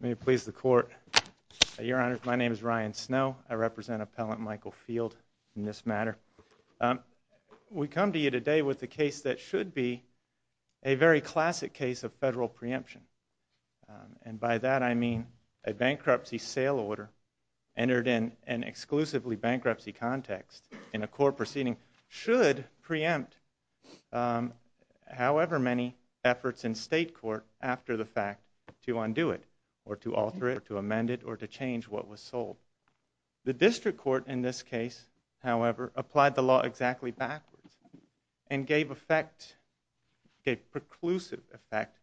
May it please the Court, Your Honor, my name is Ryan Snow. I represent Appellant Michael Field in this matter. We come to you today with a case that should be a very classic case of federal preemption. And by that I mean a bankruptcy sale order entered in an exclusively bankruptcy context in a court proceeding should preempt however many efforts in state court after the fact to undo it or to alter it or to amend it or to change what was sold. The district court in this case, however, applied the law exactly backwards and gave effect, gave preclusive effect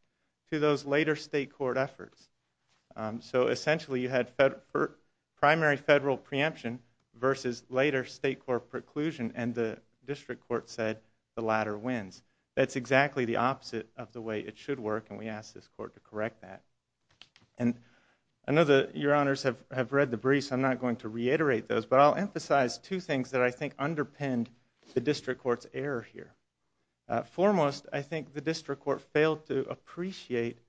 to those later state court efforts. So essentially you had primary federal preemption versus later state court preclusion and the district court said the latter wins. That's exactly the opposite of the way it should work and we ask this court to correct that. And I know that Your Honors have read the briefs, I'm not going to reiterate those, but I'll emphasize two things that I think underpinned the district court's error here. Foremost I think the district court failed to appreciate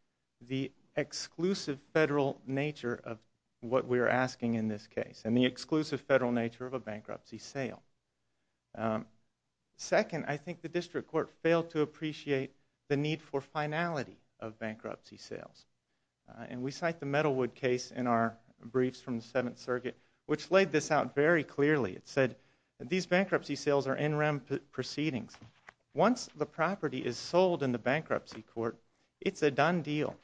the exclusive federal nature of what we're asking in this case and the exclusive federal nature of a bankruptcy sale. Second I think the district court failed to appreciate the need for finality of bankruptcy sales. And we cite the Metalwood case in our briefs from the Seventh Circuit which laid this out very clearly. It said these bankruptcy sales are in rem proceedings. Once the property is sold in the bankruptcy court, it's a done deal.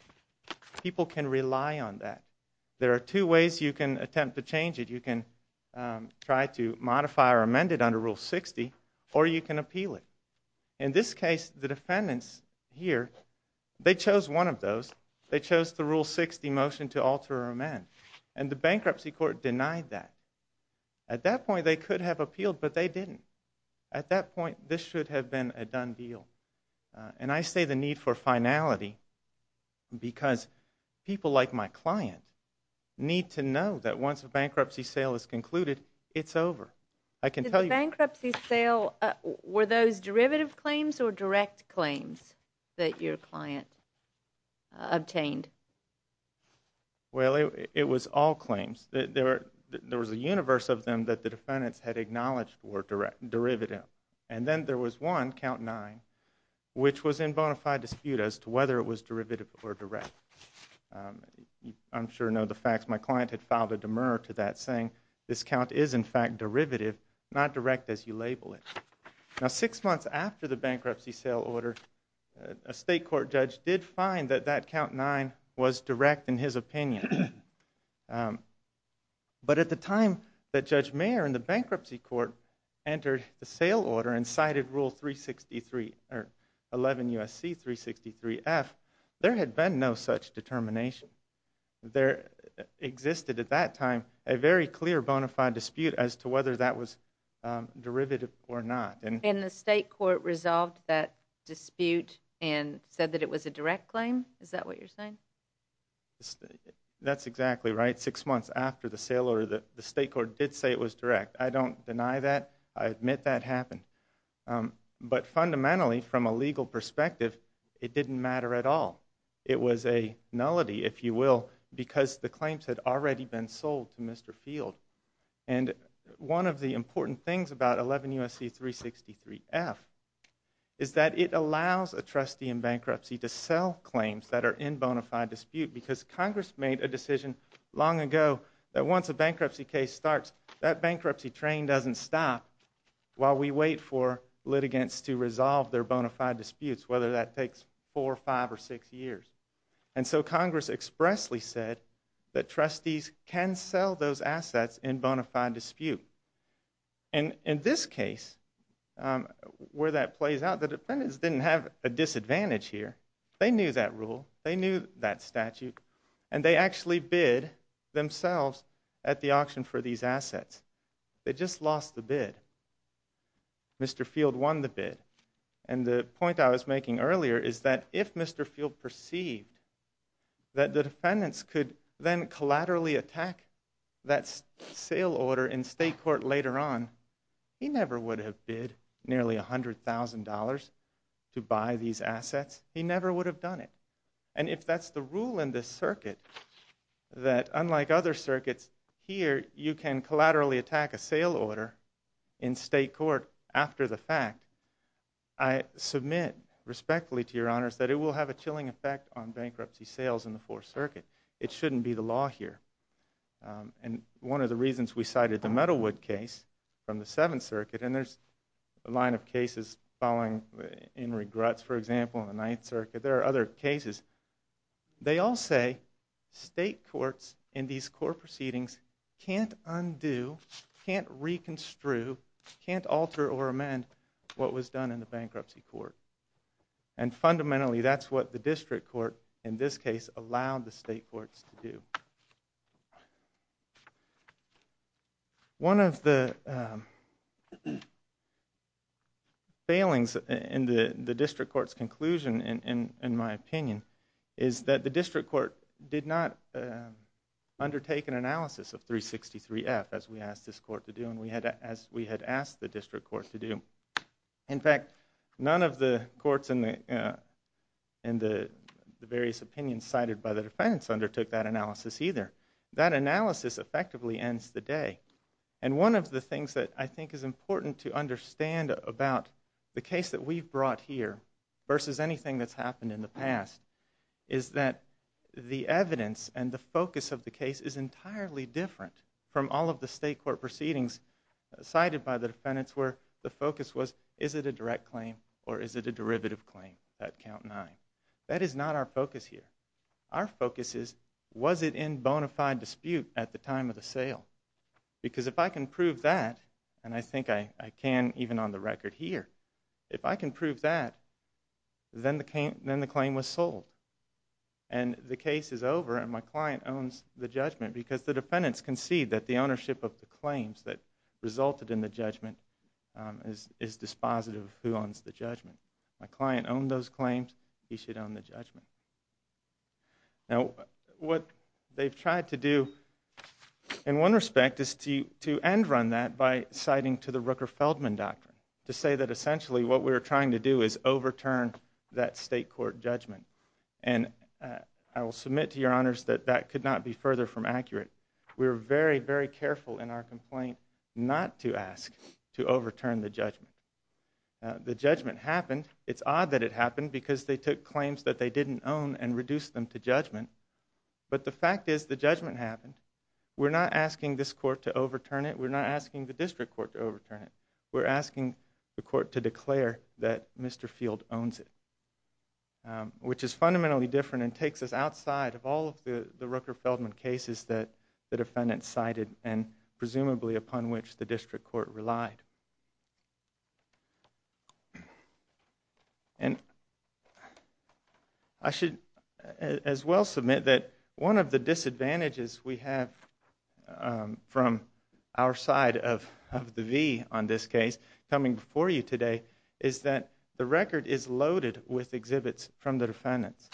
People can rely on that. There are two ways you can attempt to change it. You can try to modify or amend it under Rule 60 or you can appeal it. In this case the defendants here, they chose one of those. They chose the Rule 60 motion to alter or amend. And the bankruptcy court denied that. At that point they could have appealed but they didn't. At that point this should have been a done deal. And I say the need for finality because people like my client need to know that once a bankruptcy sale is concluded, it's over. The bankruptcy sale, were those derivative claims or direct claims that your client obtained? Well, it was all claims. There was a universe of them that the defendants had acknowledged were derivative. And then there was one, count nine, which was in bona fide dispute as to whether it was derivative or direct. I'm sure you know the facts. My client had filed a demur to that saying this count is in fact derivative, not direct as you label it. Now six months after the bankruptcy sale order, a state court judge did find that that count nine was direct in his opinion. But at the time that Judge Mayer in the bankruptcy court entered the sale order and cited Rule 363 or 11 U.S.C. 363 F, there had been no such determination. There existed at that time a very clear bona fide dispute as to whether that was derivative or not. And the state court resolved that dispute and said that it was a direct claim? Is that what you're saying? That's exactly right. Six months after the sale order, the state court did say it was direct. I don't deny that. I admit that happened. But fundamentally, from a legal perspective, it didn't matter at all. It was a nullity, if you will, because the claims had already been sold to Mr. Field. And one of the important things about 11 U.S.C. 363 F is that it allows a trustee in bankruptcy to sell claims that are in bona fide dispute because Congress made a decision long ago that once a bankruptcy case starts, that bankruptcy train doesn't stop while we wait for litigants to resolve their bona fide disputes, whether that takes four, five, or six years. And so Congress expressly said that trustees can sell those assets in bona fide dispute. And in this case, where that plays out, the defendants didn't have a disadvantage here. They knew that rule. They knew that statute. And they actually bid themselves at the auction for these assets. They just lost the bid. Mr. Field won the bid. And the point I was making earlier is that if Mr. Field perceived that the defendants could then collaterally attack that sale order in state court later on, he never would have bid nearly $100,000 to buy these assets. He never would have done it. And if that's the rule in this circuit, that unlike other circuits, here you can collaterally attack a sale order in state court after the fact, I submit respectfully to your honors that it will have a chilling effect on bankruptcy sales in the Fourth Circuit. It shouldn't be the law here. And one of the reasons we cited the Metalwood case from the Seventh Circuit, and there's a line of cases following in regrets, for example, in the Ninth Circuit. There are other cases. They all say state courts in these court proceedings can't undo, can't reconstrue, can't alter or amend what was done in the bankruptcy court. And fundamentally, that's what the district court, in this case, allowed the state courts to do. One of the failings in the district court's conclusion, in my opinion, is that the district court did not undertake an analysis of 363F, as we asked this court to do and as we had asked the district court to do. In fact, none of the courts in the various opinions cited by the defendants undertook that analysis either. That analysis effectively ends the day. And one of the things that I think is important to understand about the case that we've brought here versus anything that's happened in the past is that the evidence and the focus of the case is entirely different from all of the state court proceedings cited by the defendants where the focus was, is it a direct claim or is it a derivative claim at count nine? That is not our focus here. Our focus is, was it in bona fide dispute at the time of the sale? Because if I can prove that, and I think I can even on the record here, if I can prove that, then the claim was sold. And the case is over and my client owns the judgment because the defendants concede that the ownership of the claims that resulted My client owned those claims. He should own the judgment. Now what they've tried to do in one respect is to end run that by citing to the Rooker-Feldman Doctrine to say that essentially what we're trying to do is overturn that state court judgment. And I will submit to your honors that that could not be further from accurate. We're very, very careful in our complaint not to ask to overturn the judgment. The judgment happened. It's odd that it happened because they took claims that they didn't own and reduced them to judgment. But the fact is the judgment happened. We're not asking this court to overturn it. We're not asking the district court to overturn it. We're asking the court to declare that Mr. Field owns it, which is fundamentally different and takes us outside of all of the Rooker-Feldman cases that the defendants cited and presumably upon which the district court relied. And I should as well submit that one of the disadvantages we have from our side of the V on this case coming before you today is that the record is loaded with exhibits from the defendants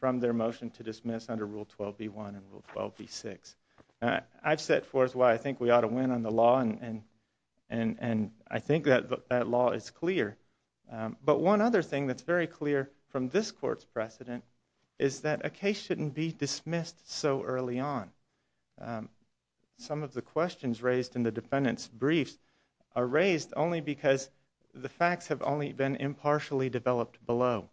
from their motion to dismiss under Rule 12B1 and Rule 12B6. I've set forth why I think we ought to win on the law and I think that law is clear. But one other thing that's very clear from this court's precedent is that a case shouldn't be dismissed so early on. Some of the questions raised in the defendants' briefs are raised only because the facts have only been impartially developed below.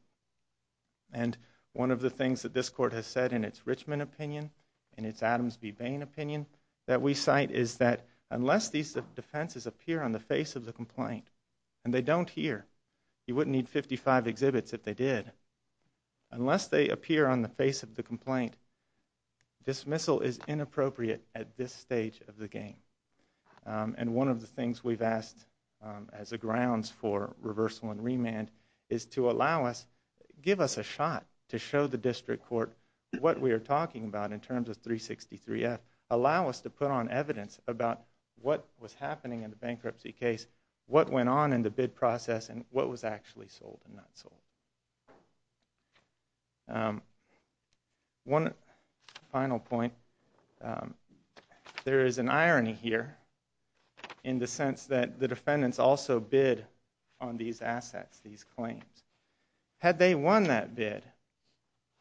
And one of the things that this court has said in its Richmond opinion, in its Adams v. Bain opinion, that we cite is that unless these defenses appear on the face of the complaint, and they don't here, you wouldn't need 55 exhibits if they did, unless they appear on the face of the complaint, dismissal is inappropriate at this stage of the game. And one of the things we've asked as a grounds for reversal and remand is to allow us, give us a shot to show the district court what we are talking about in terms of 363F. Allow us to put on evidence about what was happening in the bankruptcy case, what went on in the bid process, and what was actually sold and not sold. One final point, there is an irony here in the sense that the defendants also bid on these assets, these claims. Had they won that bid,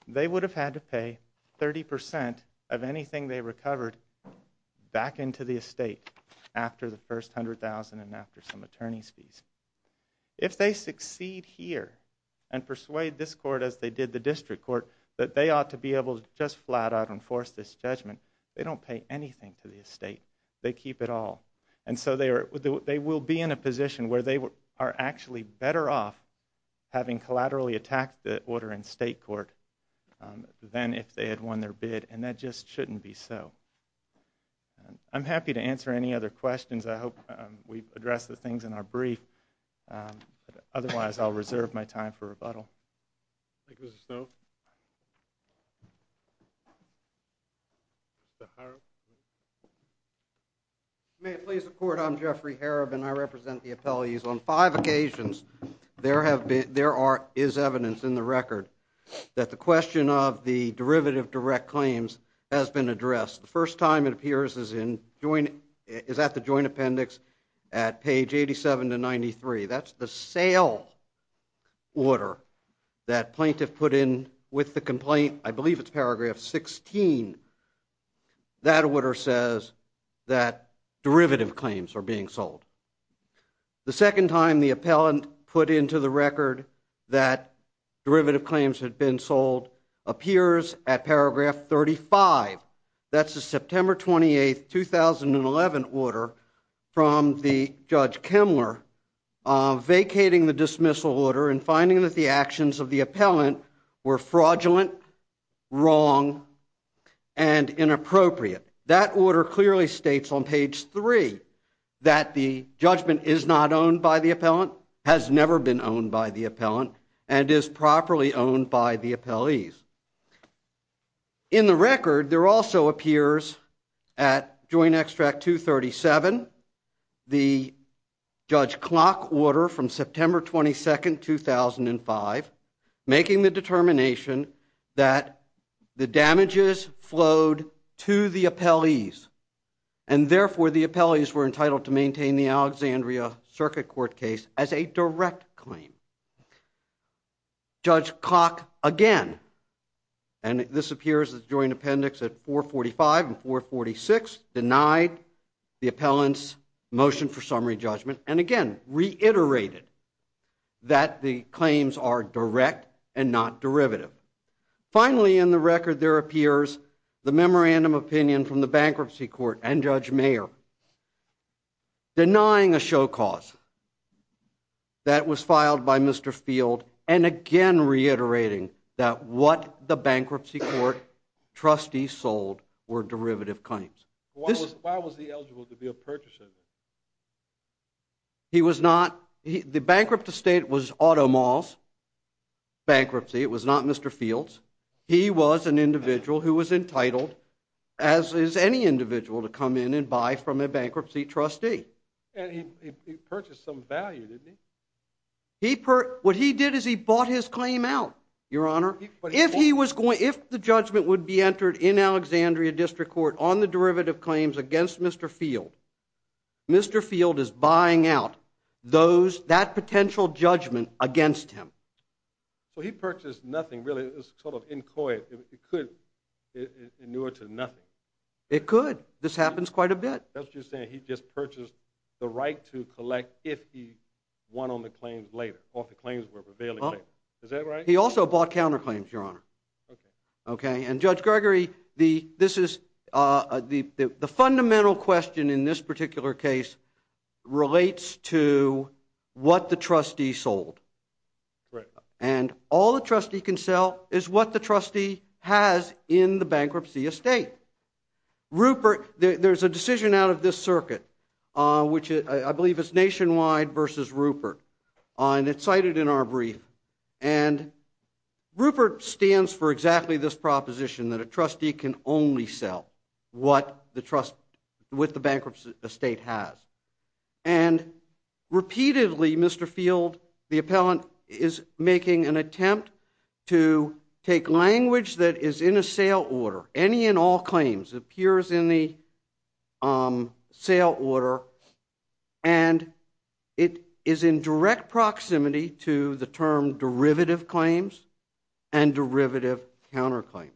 they would have had to pay 30% of anything they recovered back into the estate after the first $100,000 and after some attorney's fees. If they succeed here and persuade this court as they did the district court, that they ought to be able to just flat out enforce this judgment, they don't pay anything to the estate. They keep it all. And so they will be in a position where they are actually better off having collaterally attacked the order in state court than if they had won their bid, and that just shouldn't be so. I'm happy to answer any other questions. I hope we've addressed the things in our brief. Otherwise, I'll reserve my time for rebuttal. May it please the court, I'm Jeffrey Harob and I represent the appellees. On five occasions, there is evidence in the record that the question of the derivative direct claims has been addressed. The first time it appears is at the joint appendix at page 87 to 93. That's the sale order that plaintiff put in with the complaint, I believe it's paragraph 16. That order says that derivative claims are being sold. The second time the appellant put into the record that derivative claims had been sold appears at paragraph 35. That's the September 28th, 2011 order from the Judge Kemler vacating the dismissal order and finding that the actions of the appellant were fraudulent, wrong, and inappropriate. That order clearly states on page 3 that the judgment is not owned by the appellant, has never been owned by the appellant, and is properly owned by the appellees. In the record, there also appears at Joint Extract 237, the Judge Klock order from September 22nd, 2005, making the determination that the damages flowed to the appellees. And therefore, the appellees were entitled to maintain the Alexandria Circuit Court case as a direct claim. Judge Klock, again, and this appears at the joint appendix at 445 and 446, denied the appellant's motion for summary judgment, and again, reiterated that the claims are direct and not derivative. Finally, in the record, there appears the memorandum opinion from the Bankruptcy Court and Judge Mayer, denying a show cause that was filed by Mr. Field, and again, reiterating that what the Bankruptcy Court trustees sold were derivative claims. Why was he eligible to be a purchaser? He was not. The bankrupt estate was Auto Mall's bankruptcy. It was not Mr. Field's. He was an individual who was entitled, as is any individual, to come in and buy from a bankruptcy trustee. And he purchased some value, didn't he? What he did is he bought his claim out, Your Honor. If the judgment would be entered in Alexandria District Court on the derivative claims against Mr. Field, Mr. Field is buying out that potential judgment against him. So he purchased nothing, really. It was sort of inchoate. It could be newer to nothing. It could. This happens quite a bit. That's what you're saying. He just purchased the right to collect if he won on the claims later, or if the claims were prevailing later. Is that right? He also bought counterclaims, Your Honor. And Judge Gregory, the fundamental question in this particular case relates to what the trustee sold. And all the trustee can sell is what the trustee has in the bankruptcy estate. There's a decision out of this circuit, which I believe is Nationwide v. Rupert, and it's cited in our brief. And Rupert stands for exactly this proposition, that a trustee can only sell what the trust with the bankruptcy estate has. And repeatedly, Mr. Field, the appellant, is making an attempt to take language that is in a sale order. Any and all claims appears in the sale order, and it is in direct proximity to the term derivative claims and derivative counterclaims.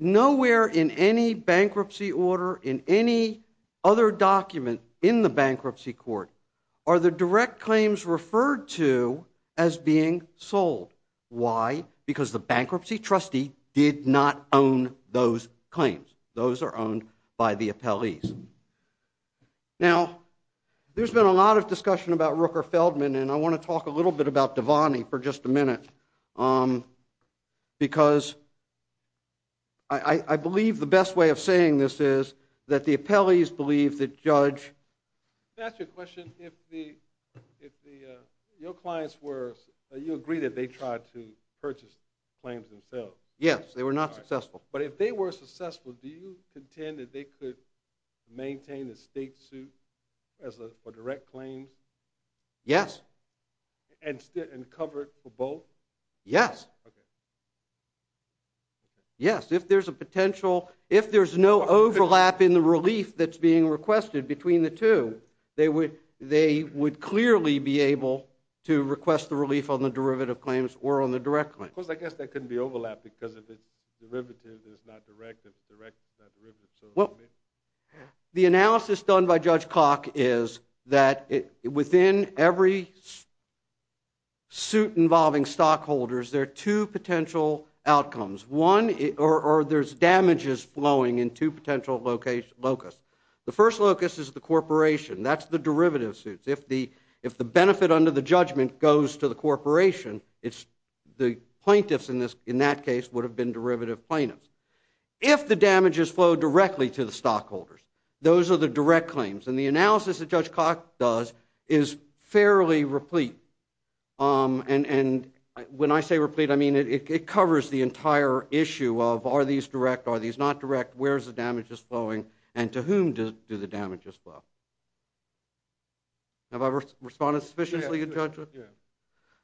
Nowhere in any bankruptcy order, in any other document in the bankruptcy court, are the direct claims referred to as being sold. Why? Because the bankruptcy trustee did not own those claims. Those are owned by the appellees. Now, there's been a lot of discussion about Rooker Feldman, and I want to talk a little bit about Devani for just a minute. Because I believe the best way of saying this is that the appellees believe that Judge... Yes, they were not successful. But if they were successful, do you contend that they could maintain the state suit for direct claims? Yes. And cover it for both? Yes. Okay. Yes, if there's a potential... If there's no overlap in the relief that's being requested between the two, they would clearly be able to request the relief on the derivative claims or on the direct claims. Because I guess that couldn't be overlapped, because if it's derivative, it's not direct, and if it's direct, it's not derivative. The analysis done by Judge Koch is that within every suit involving stockholders, there are two potential outcomes. One, there's damages flowing in two potential locus. The first locus is the corporation. That's the derivative suits. If the benefit under the judgment goes to the corporation, the plaintiffs in that case would have been derivative plaintiffs. If the damages flow directly to the stockholders, those are the direct claims. And the analysis that Judge Koch does is fairly replete. And when I say replete, I mean it covers the entire issue of are these direct, are these not direct, where's the damages flowing, and to whom do the damages flow? Have I responded sufficiently to Judge? Yes.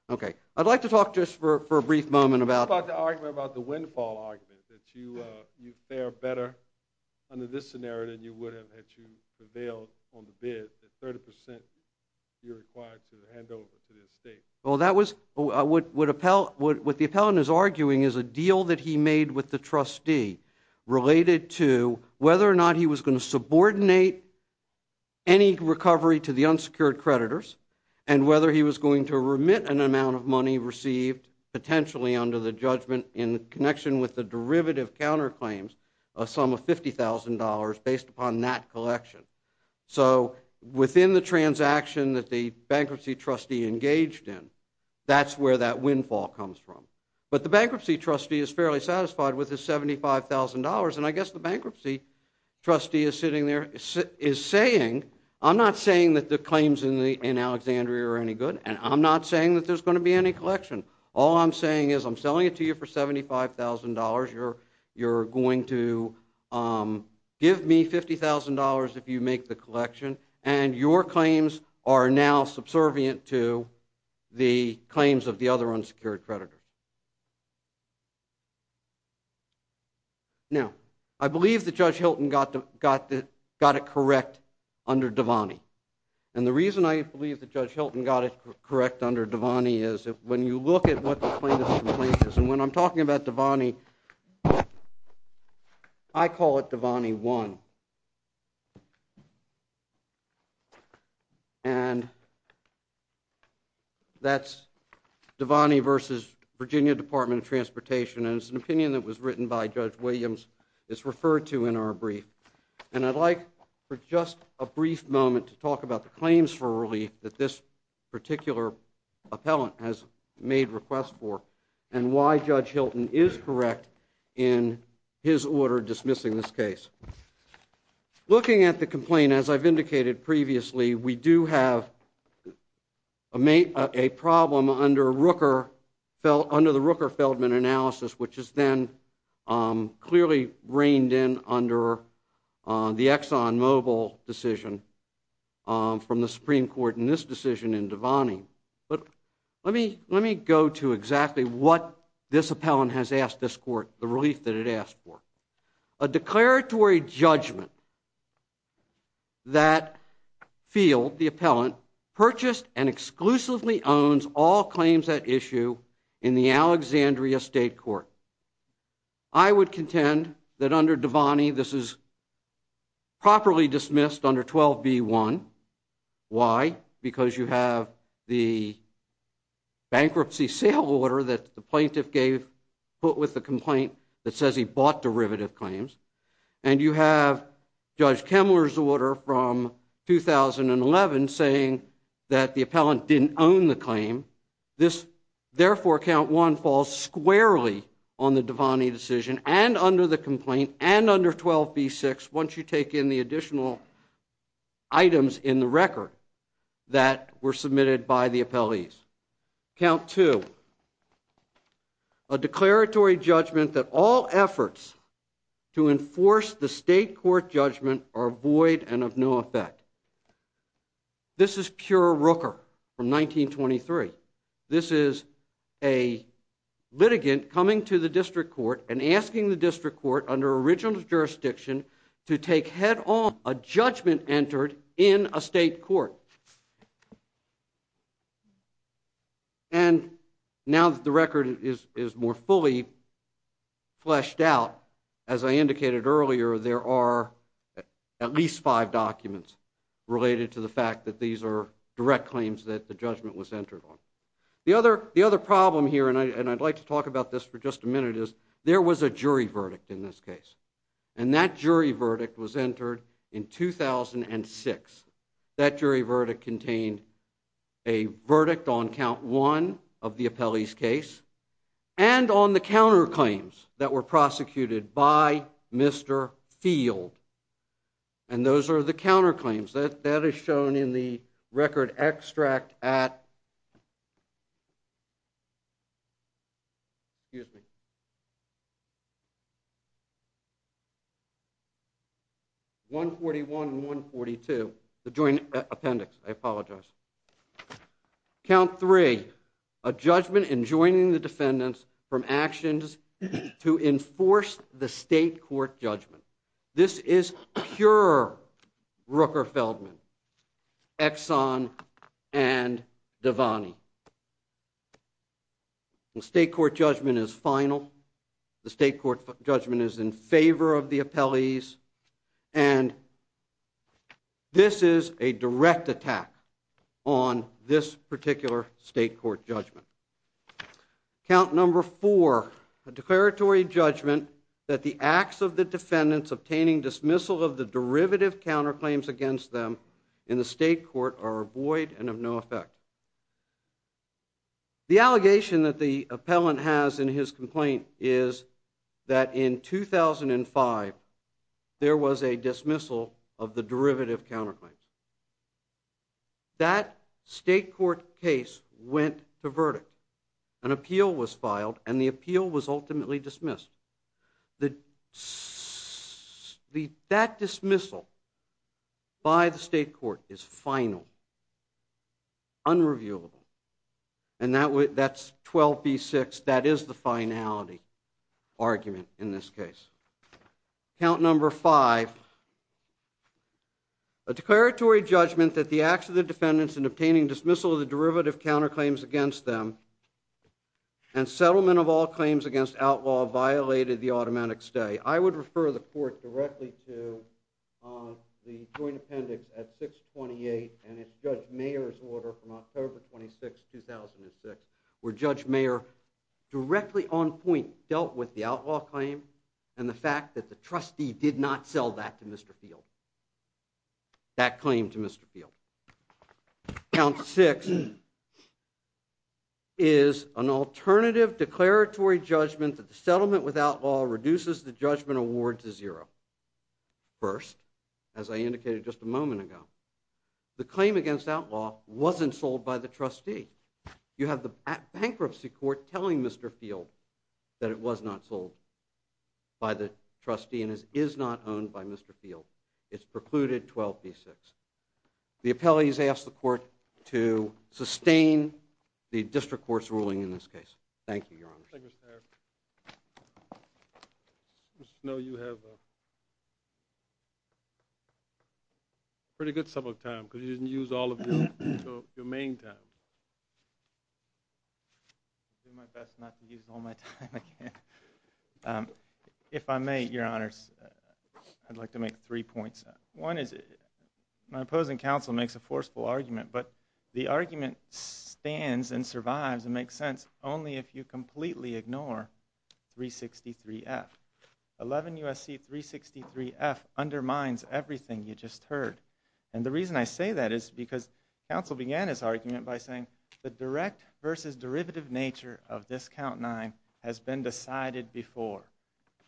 Okay. I'd like to talk just for a brief moment about... If you fare better under this scenario than you would have had you prevailed on the bid, that 30% you're required to hand over to the estate. Well, what the appellant is arguing is a deal that he made with the trustee related to whether or not he was going to subordinate any recovery to the unsecured creditors, and whether he was going to remit an amount of money received potentially under the judgment in connection with the derivative counterclaims, a sum of $50,000 based upon that collection. So within the transaction that the bankruptcy trustee engaged in, that's where that windfall comes from. But the bankruptcy trustee is fairly satisfied with his $75,000. And I guess the bankruptcy trustee is sitting there, is saying, I'm not saying that the claims in Alexandria are any good, and I'm not saying that there's going to be any collection. All I'm saying is I'm selling it to you for $75,000, you're going to give me $50,000 if you make the collection, and your claims are now subservient to the claims of the other unsecured creditors. Now, I believe that Judge Hilton got it correct under Devani. And the reason I believe that Judge Hilton got it correct under Devani is when you look at what the plaintiff's complaint is, and when I'm talking about Devani, I call it Devani 1. And that's Devani versus Virginia Department of Transportation, and it's an opinion that was written by Judge Williams that's referred to in our brief. And I'd like for just a brief moment to talk about the claims for relief that this particular appellant has made requests for, and why Judge Hilton is correct in his order dismissing this case. Looking at the complaint, as I've indicated previously, we do have a problem under the Rooker-Feldman analysis, which is then clearly reined in under the ExxonMobil decision from the Supreme Court in this decision in Devani. But let me go to exactly what this appellant has asked this court, the relief that it asked for. A declaratory judgment that Field, the appellant, purchased and exclusively owns all claims at issue in the Alexandria State Court. I would contend that under Devani this is properly dismissed under 12B1. Why? Because you have the bankruptcy sale order that the plaintiff gave, put with the complaint that says he bought derivative claims, and you have Judge Kemmler's order from 2011 saying that the appellant didn't own the claim. Therefore, Count 1 falls squarely on the Devani decision and under the complaint and under 12B6 once you take in the additional items in the record that were submitted by the appellees. Count 2, a declaratory judgment that all efforts to enforce the state court judgment are void and of no effect. This is pure Rooker from 1923. This is a litigant coming to the district court and asking the district court under original jurisdiction to take head on a judgment entered in a state court. And now that the record is more fully fleshed out, as I indicated earlier, there are at least five documents related to the fact that these are direct claims that the judgment was entered on. The other problem here, and I'd like to talk about this for just a minute, is there was a jury verdict in this case. And that jury verdict was entered in 2006. That jury verdict contained a verdict on Count 1 of the appellee's case and on the counterclaims that were prosecuted by Mr. Field. And those are the counterclaims. That is shown in the record extract at 141 and 142, the joint appendix. I apologize. Count 3, a judgment enjoining the defendants from actions to enforce the state court judgment. This is pure Rooker-Feldman, Exxon, and Devaney. The state court judgment is final. The state court judgment is in favor of the appellees. And this is a direct attack on this particular state court judgment. Count number 4, a declaratory judgment that the acts of the defendants obtaining dismissal of the derivative counterclaims against them in the state court are void and of no effect. The allegation that the appellant has in his complaint is that in 2005, there was a dismissal of the derivative counterclaims. That state court case went to verdict. An appeal was filed, and the appeal was ultimately dismissed. That dismissal by the state court is final. Unreviewable. And that's 12B6. That is the finality argument in this case. Count number 5, a declaratory judgment that the acts of the defendants in obtaining dismissal of the derivative counterclaims against them and settlement of all claims against outlaw violated the automatic stay. I would refer the court directly to the joint appendix at 628, and it's Judge Mayer's order from October 26, 2006, where Judge Mayer directly on point dealt with the outlaw claim and the fact that the trustee did not sell that to Mr. Field. That claim to Mr. Field. Count 6 is an alternative declaratory judgment that the settlement without law reduces the judgment award to zero. First, as I indicated just a moment ago, the claim against outlaw wasn't sold by the trustee. You have the bankruptcy court telling Mr. Field that it was not sold by the trustee and is not owned by Mr. Field. It's precluded 12B6. The appellate has asked the court to sustain the district court's ruling in this case. Thank you, Your Honor. Thank you, Mr. Mayor. Mr. Snow, you have a pretty good sum of time because you didn't use all of your main time. I'll do my best not to use all my time I can. If I may, Your Honors, I'd like to make three points. One is my opposing counsel makes a forceful argument, but the argument stands and survives and makes sense only if you completely ignore 363F. 11 U.S.C. 363F undermines everything you just heard, and the reason I say that is because counsel began his argument by saying the direct versus derivative nature of this Count 9 has been decided before,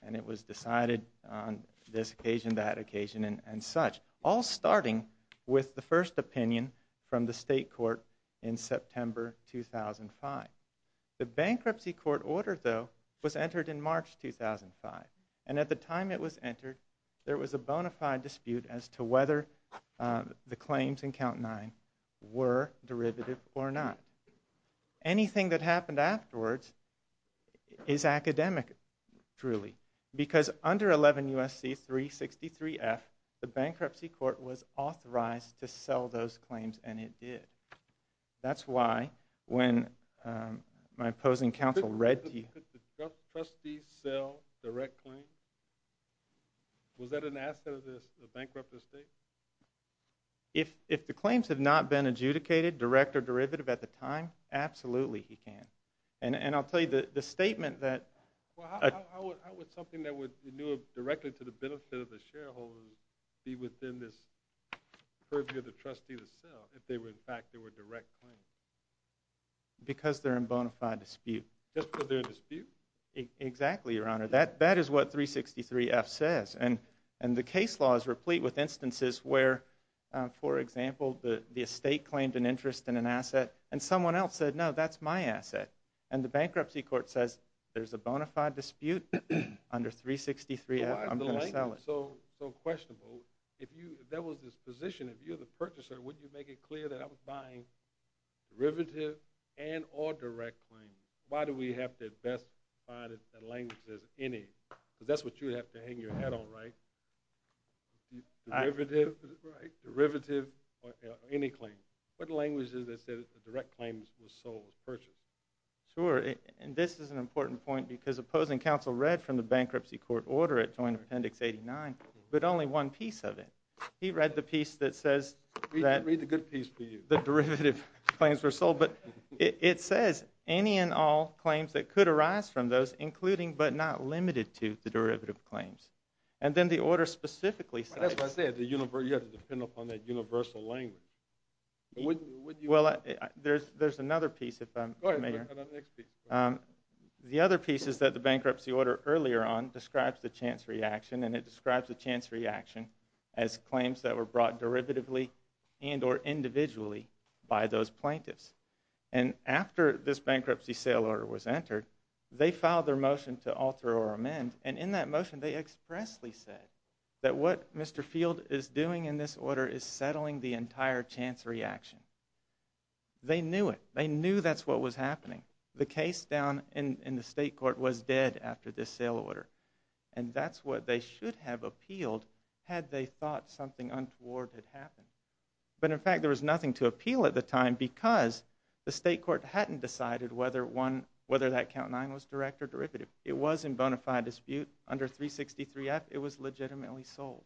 and it was decided on this occasion, that occasion, and such, all starting with the first opinion from the state court in September 2005. The bankruptcy court order, though, was entered in March 2005, and at the time it was entered there was a bona fide dispute as to whether the claims in Count 9 were derivative or not. Anything that happened afterwards is academic, truly, because under 11 U.S.C. 363F the bankruptcy court was authorized to sell those claims, and it did. That's why when my opposing counsel read to you Could the trustees sell direct claims? Was that an asset of the bankrupted state? If the claims had not been adjudicated direct or derivative at the time, absolutely he can. And I'll tell you the statement that How would something that would renew directly to the benefit of the shareholders be within this purview of the trustee to sell if in fact they were direct claims? Because they're in bona fide dispute. Just because they're in dispute? Exactly, Your Honor. That is what 363F says, and the case law is replete with instances where, for example, the estate claimed an interest in an asset, and someone else said, No, that's my asset. And the bankruptcy court says, There's a bona fide dispute under 363F, I'm going to sell it. Why is the language so questionable? If there was this position, if you were the purchaser, wouldn't you make it clear that I was buying derivative and or direct claims? Why do we have to best define the language as any? Because that's what you would have to hang your hat on, right? Derivative or any claim. What language is it that says the direct claims were sold, purchased? Sure, and this is an important point because opposing counsel read from the bankruptcy court order at Joint Appendix 89, but only one piece of it. He read the piece that says that the derivative claims were sold. But it says any and all claims that could arise from those, including but not limited to the derivative claims. And then the order specifically says you have to depend upon that universal language. There's another piece if I may. The other piece is that the bankruptcy order earlier on describes the chance reaction, and it describes the chance reaction as claims that were brought derivatively and or individually by those plaintiffs. And after this bankruptcy sale order was entered, they filed their motion to alter or amend, and in that motion they expressly said that what Mr. Field is doing in this order is settling the entire chance reaction. They knew it. They knew that's what was happening. The case down in the state court was dead after this sale order, and that's what they should have appealed had they thought something untoward had happened. But, in fact, there was nothing to appeal at the time because the state court hadn't decided whether that count 9 was direct or derivative. It was in bona fide dispute under 363F. It was legitimately sold.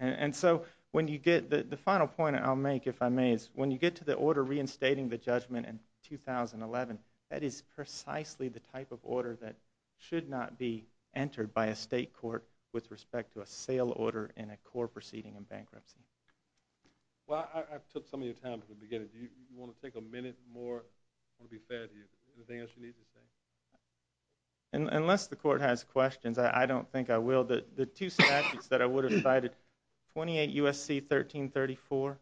And so the final point I'll make, if I may, is when you get to the order reinstating the judgment in 2011, that is precisely the type of order that should not be entered by a state court with respect to a sale order in a core proceeding in bankruptcy. Well, I took some of your time at the beginning. Do you want to take a minute more? I want to be fair to you. Anything else you need to say? Unless the court has questions, I don't think I will. The two statutes that I would have cited, 28 U.S.C. 1334,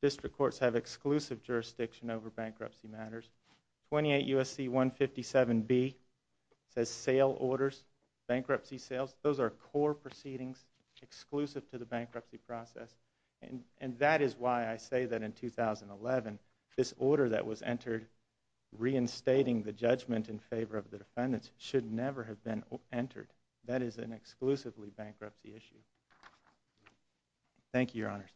district courts have exclusive jurisdiction over bankruptcy matters. 28 U.S.C. 157B says sale orders, bankruptcy sales. Those are core proceedings exclusive to the bankruptcy process. And that is why I say that in 2011 this order that was entered reinstating the judgment in favor of the defendants should never have been entered. That is an exclusively bankruptcy issue. Thank you, Your Honors.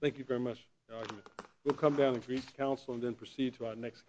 Thank you very much for your argument. We'll come down to Greece Council and then proceed to our next case.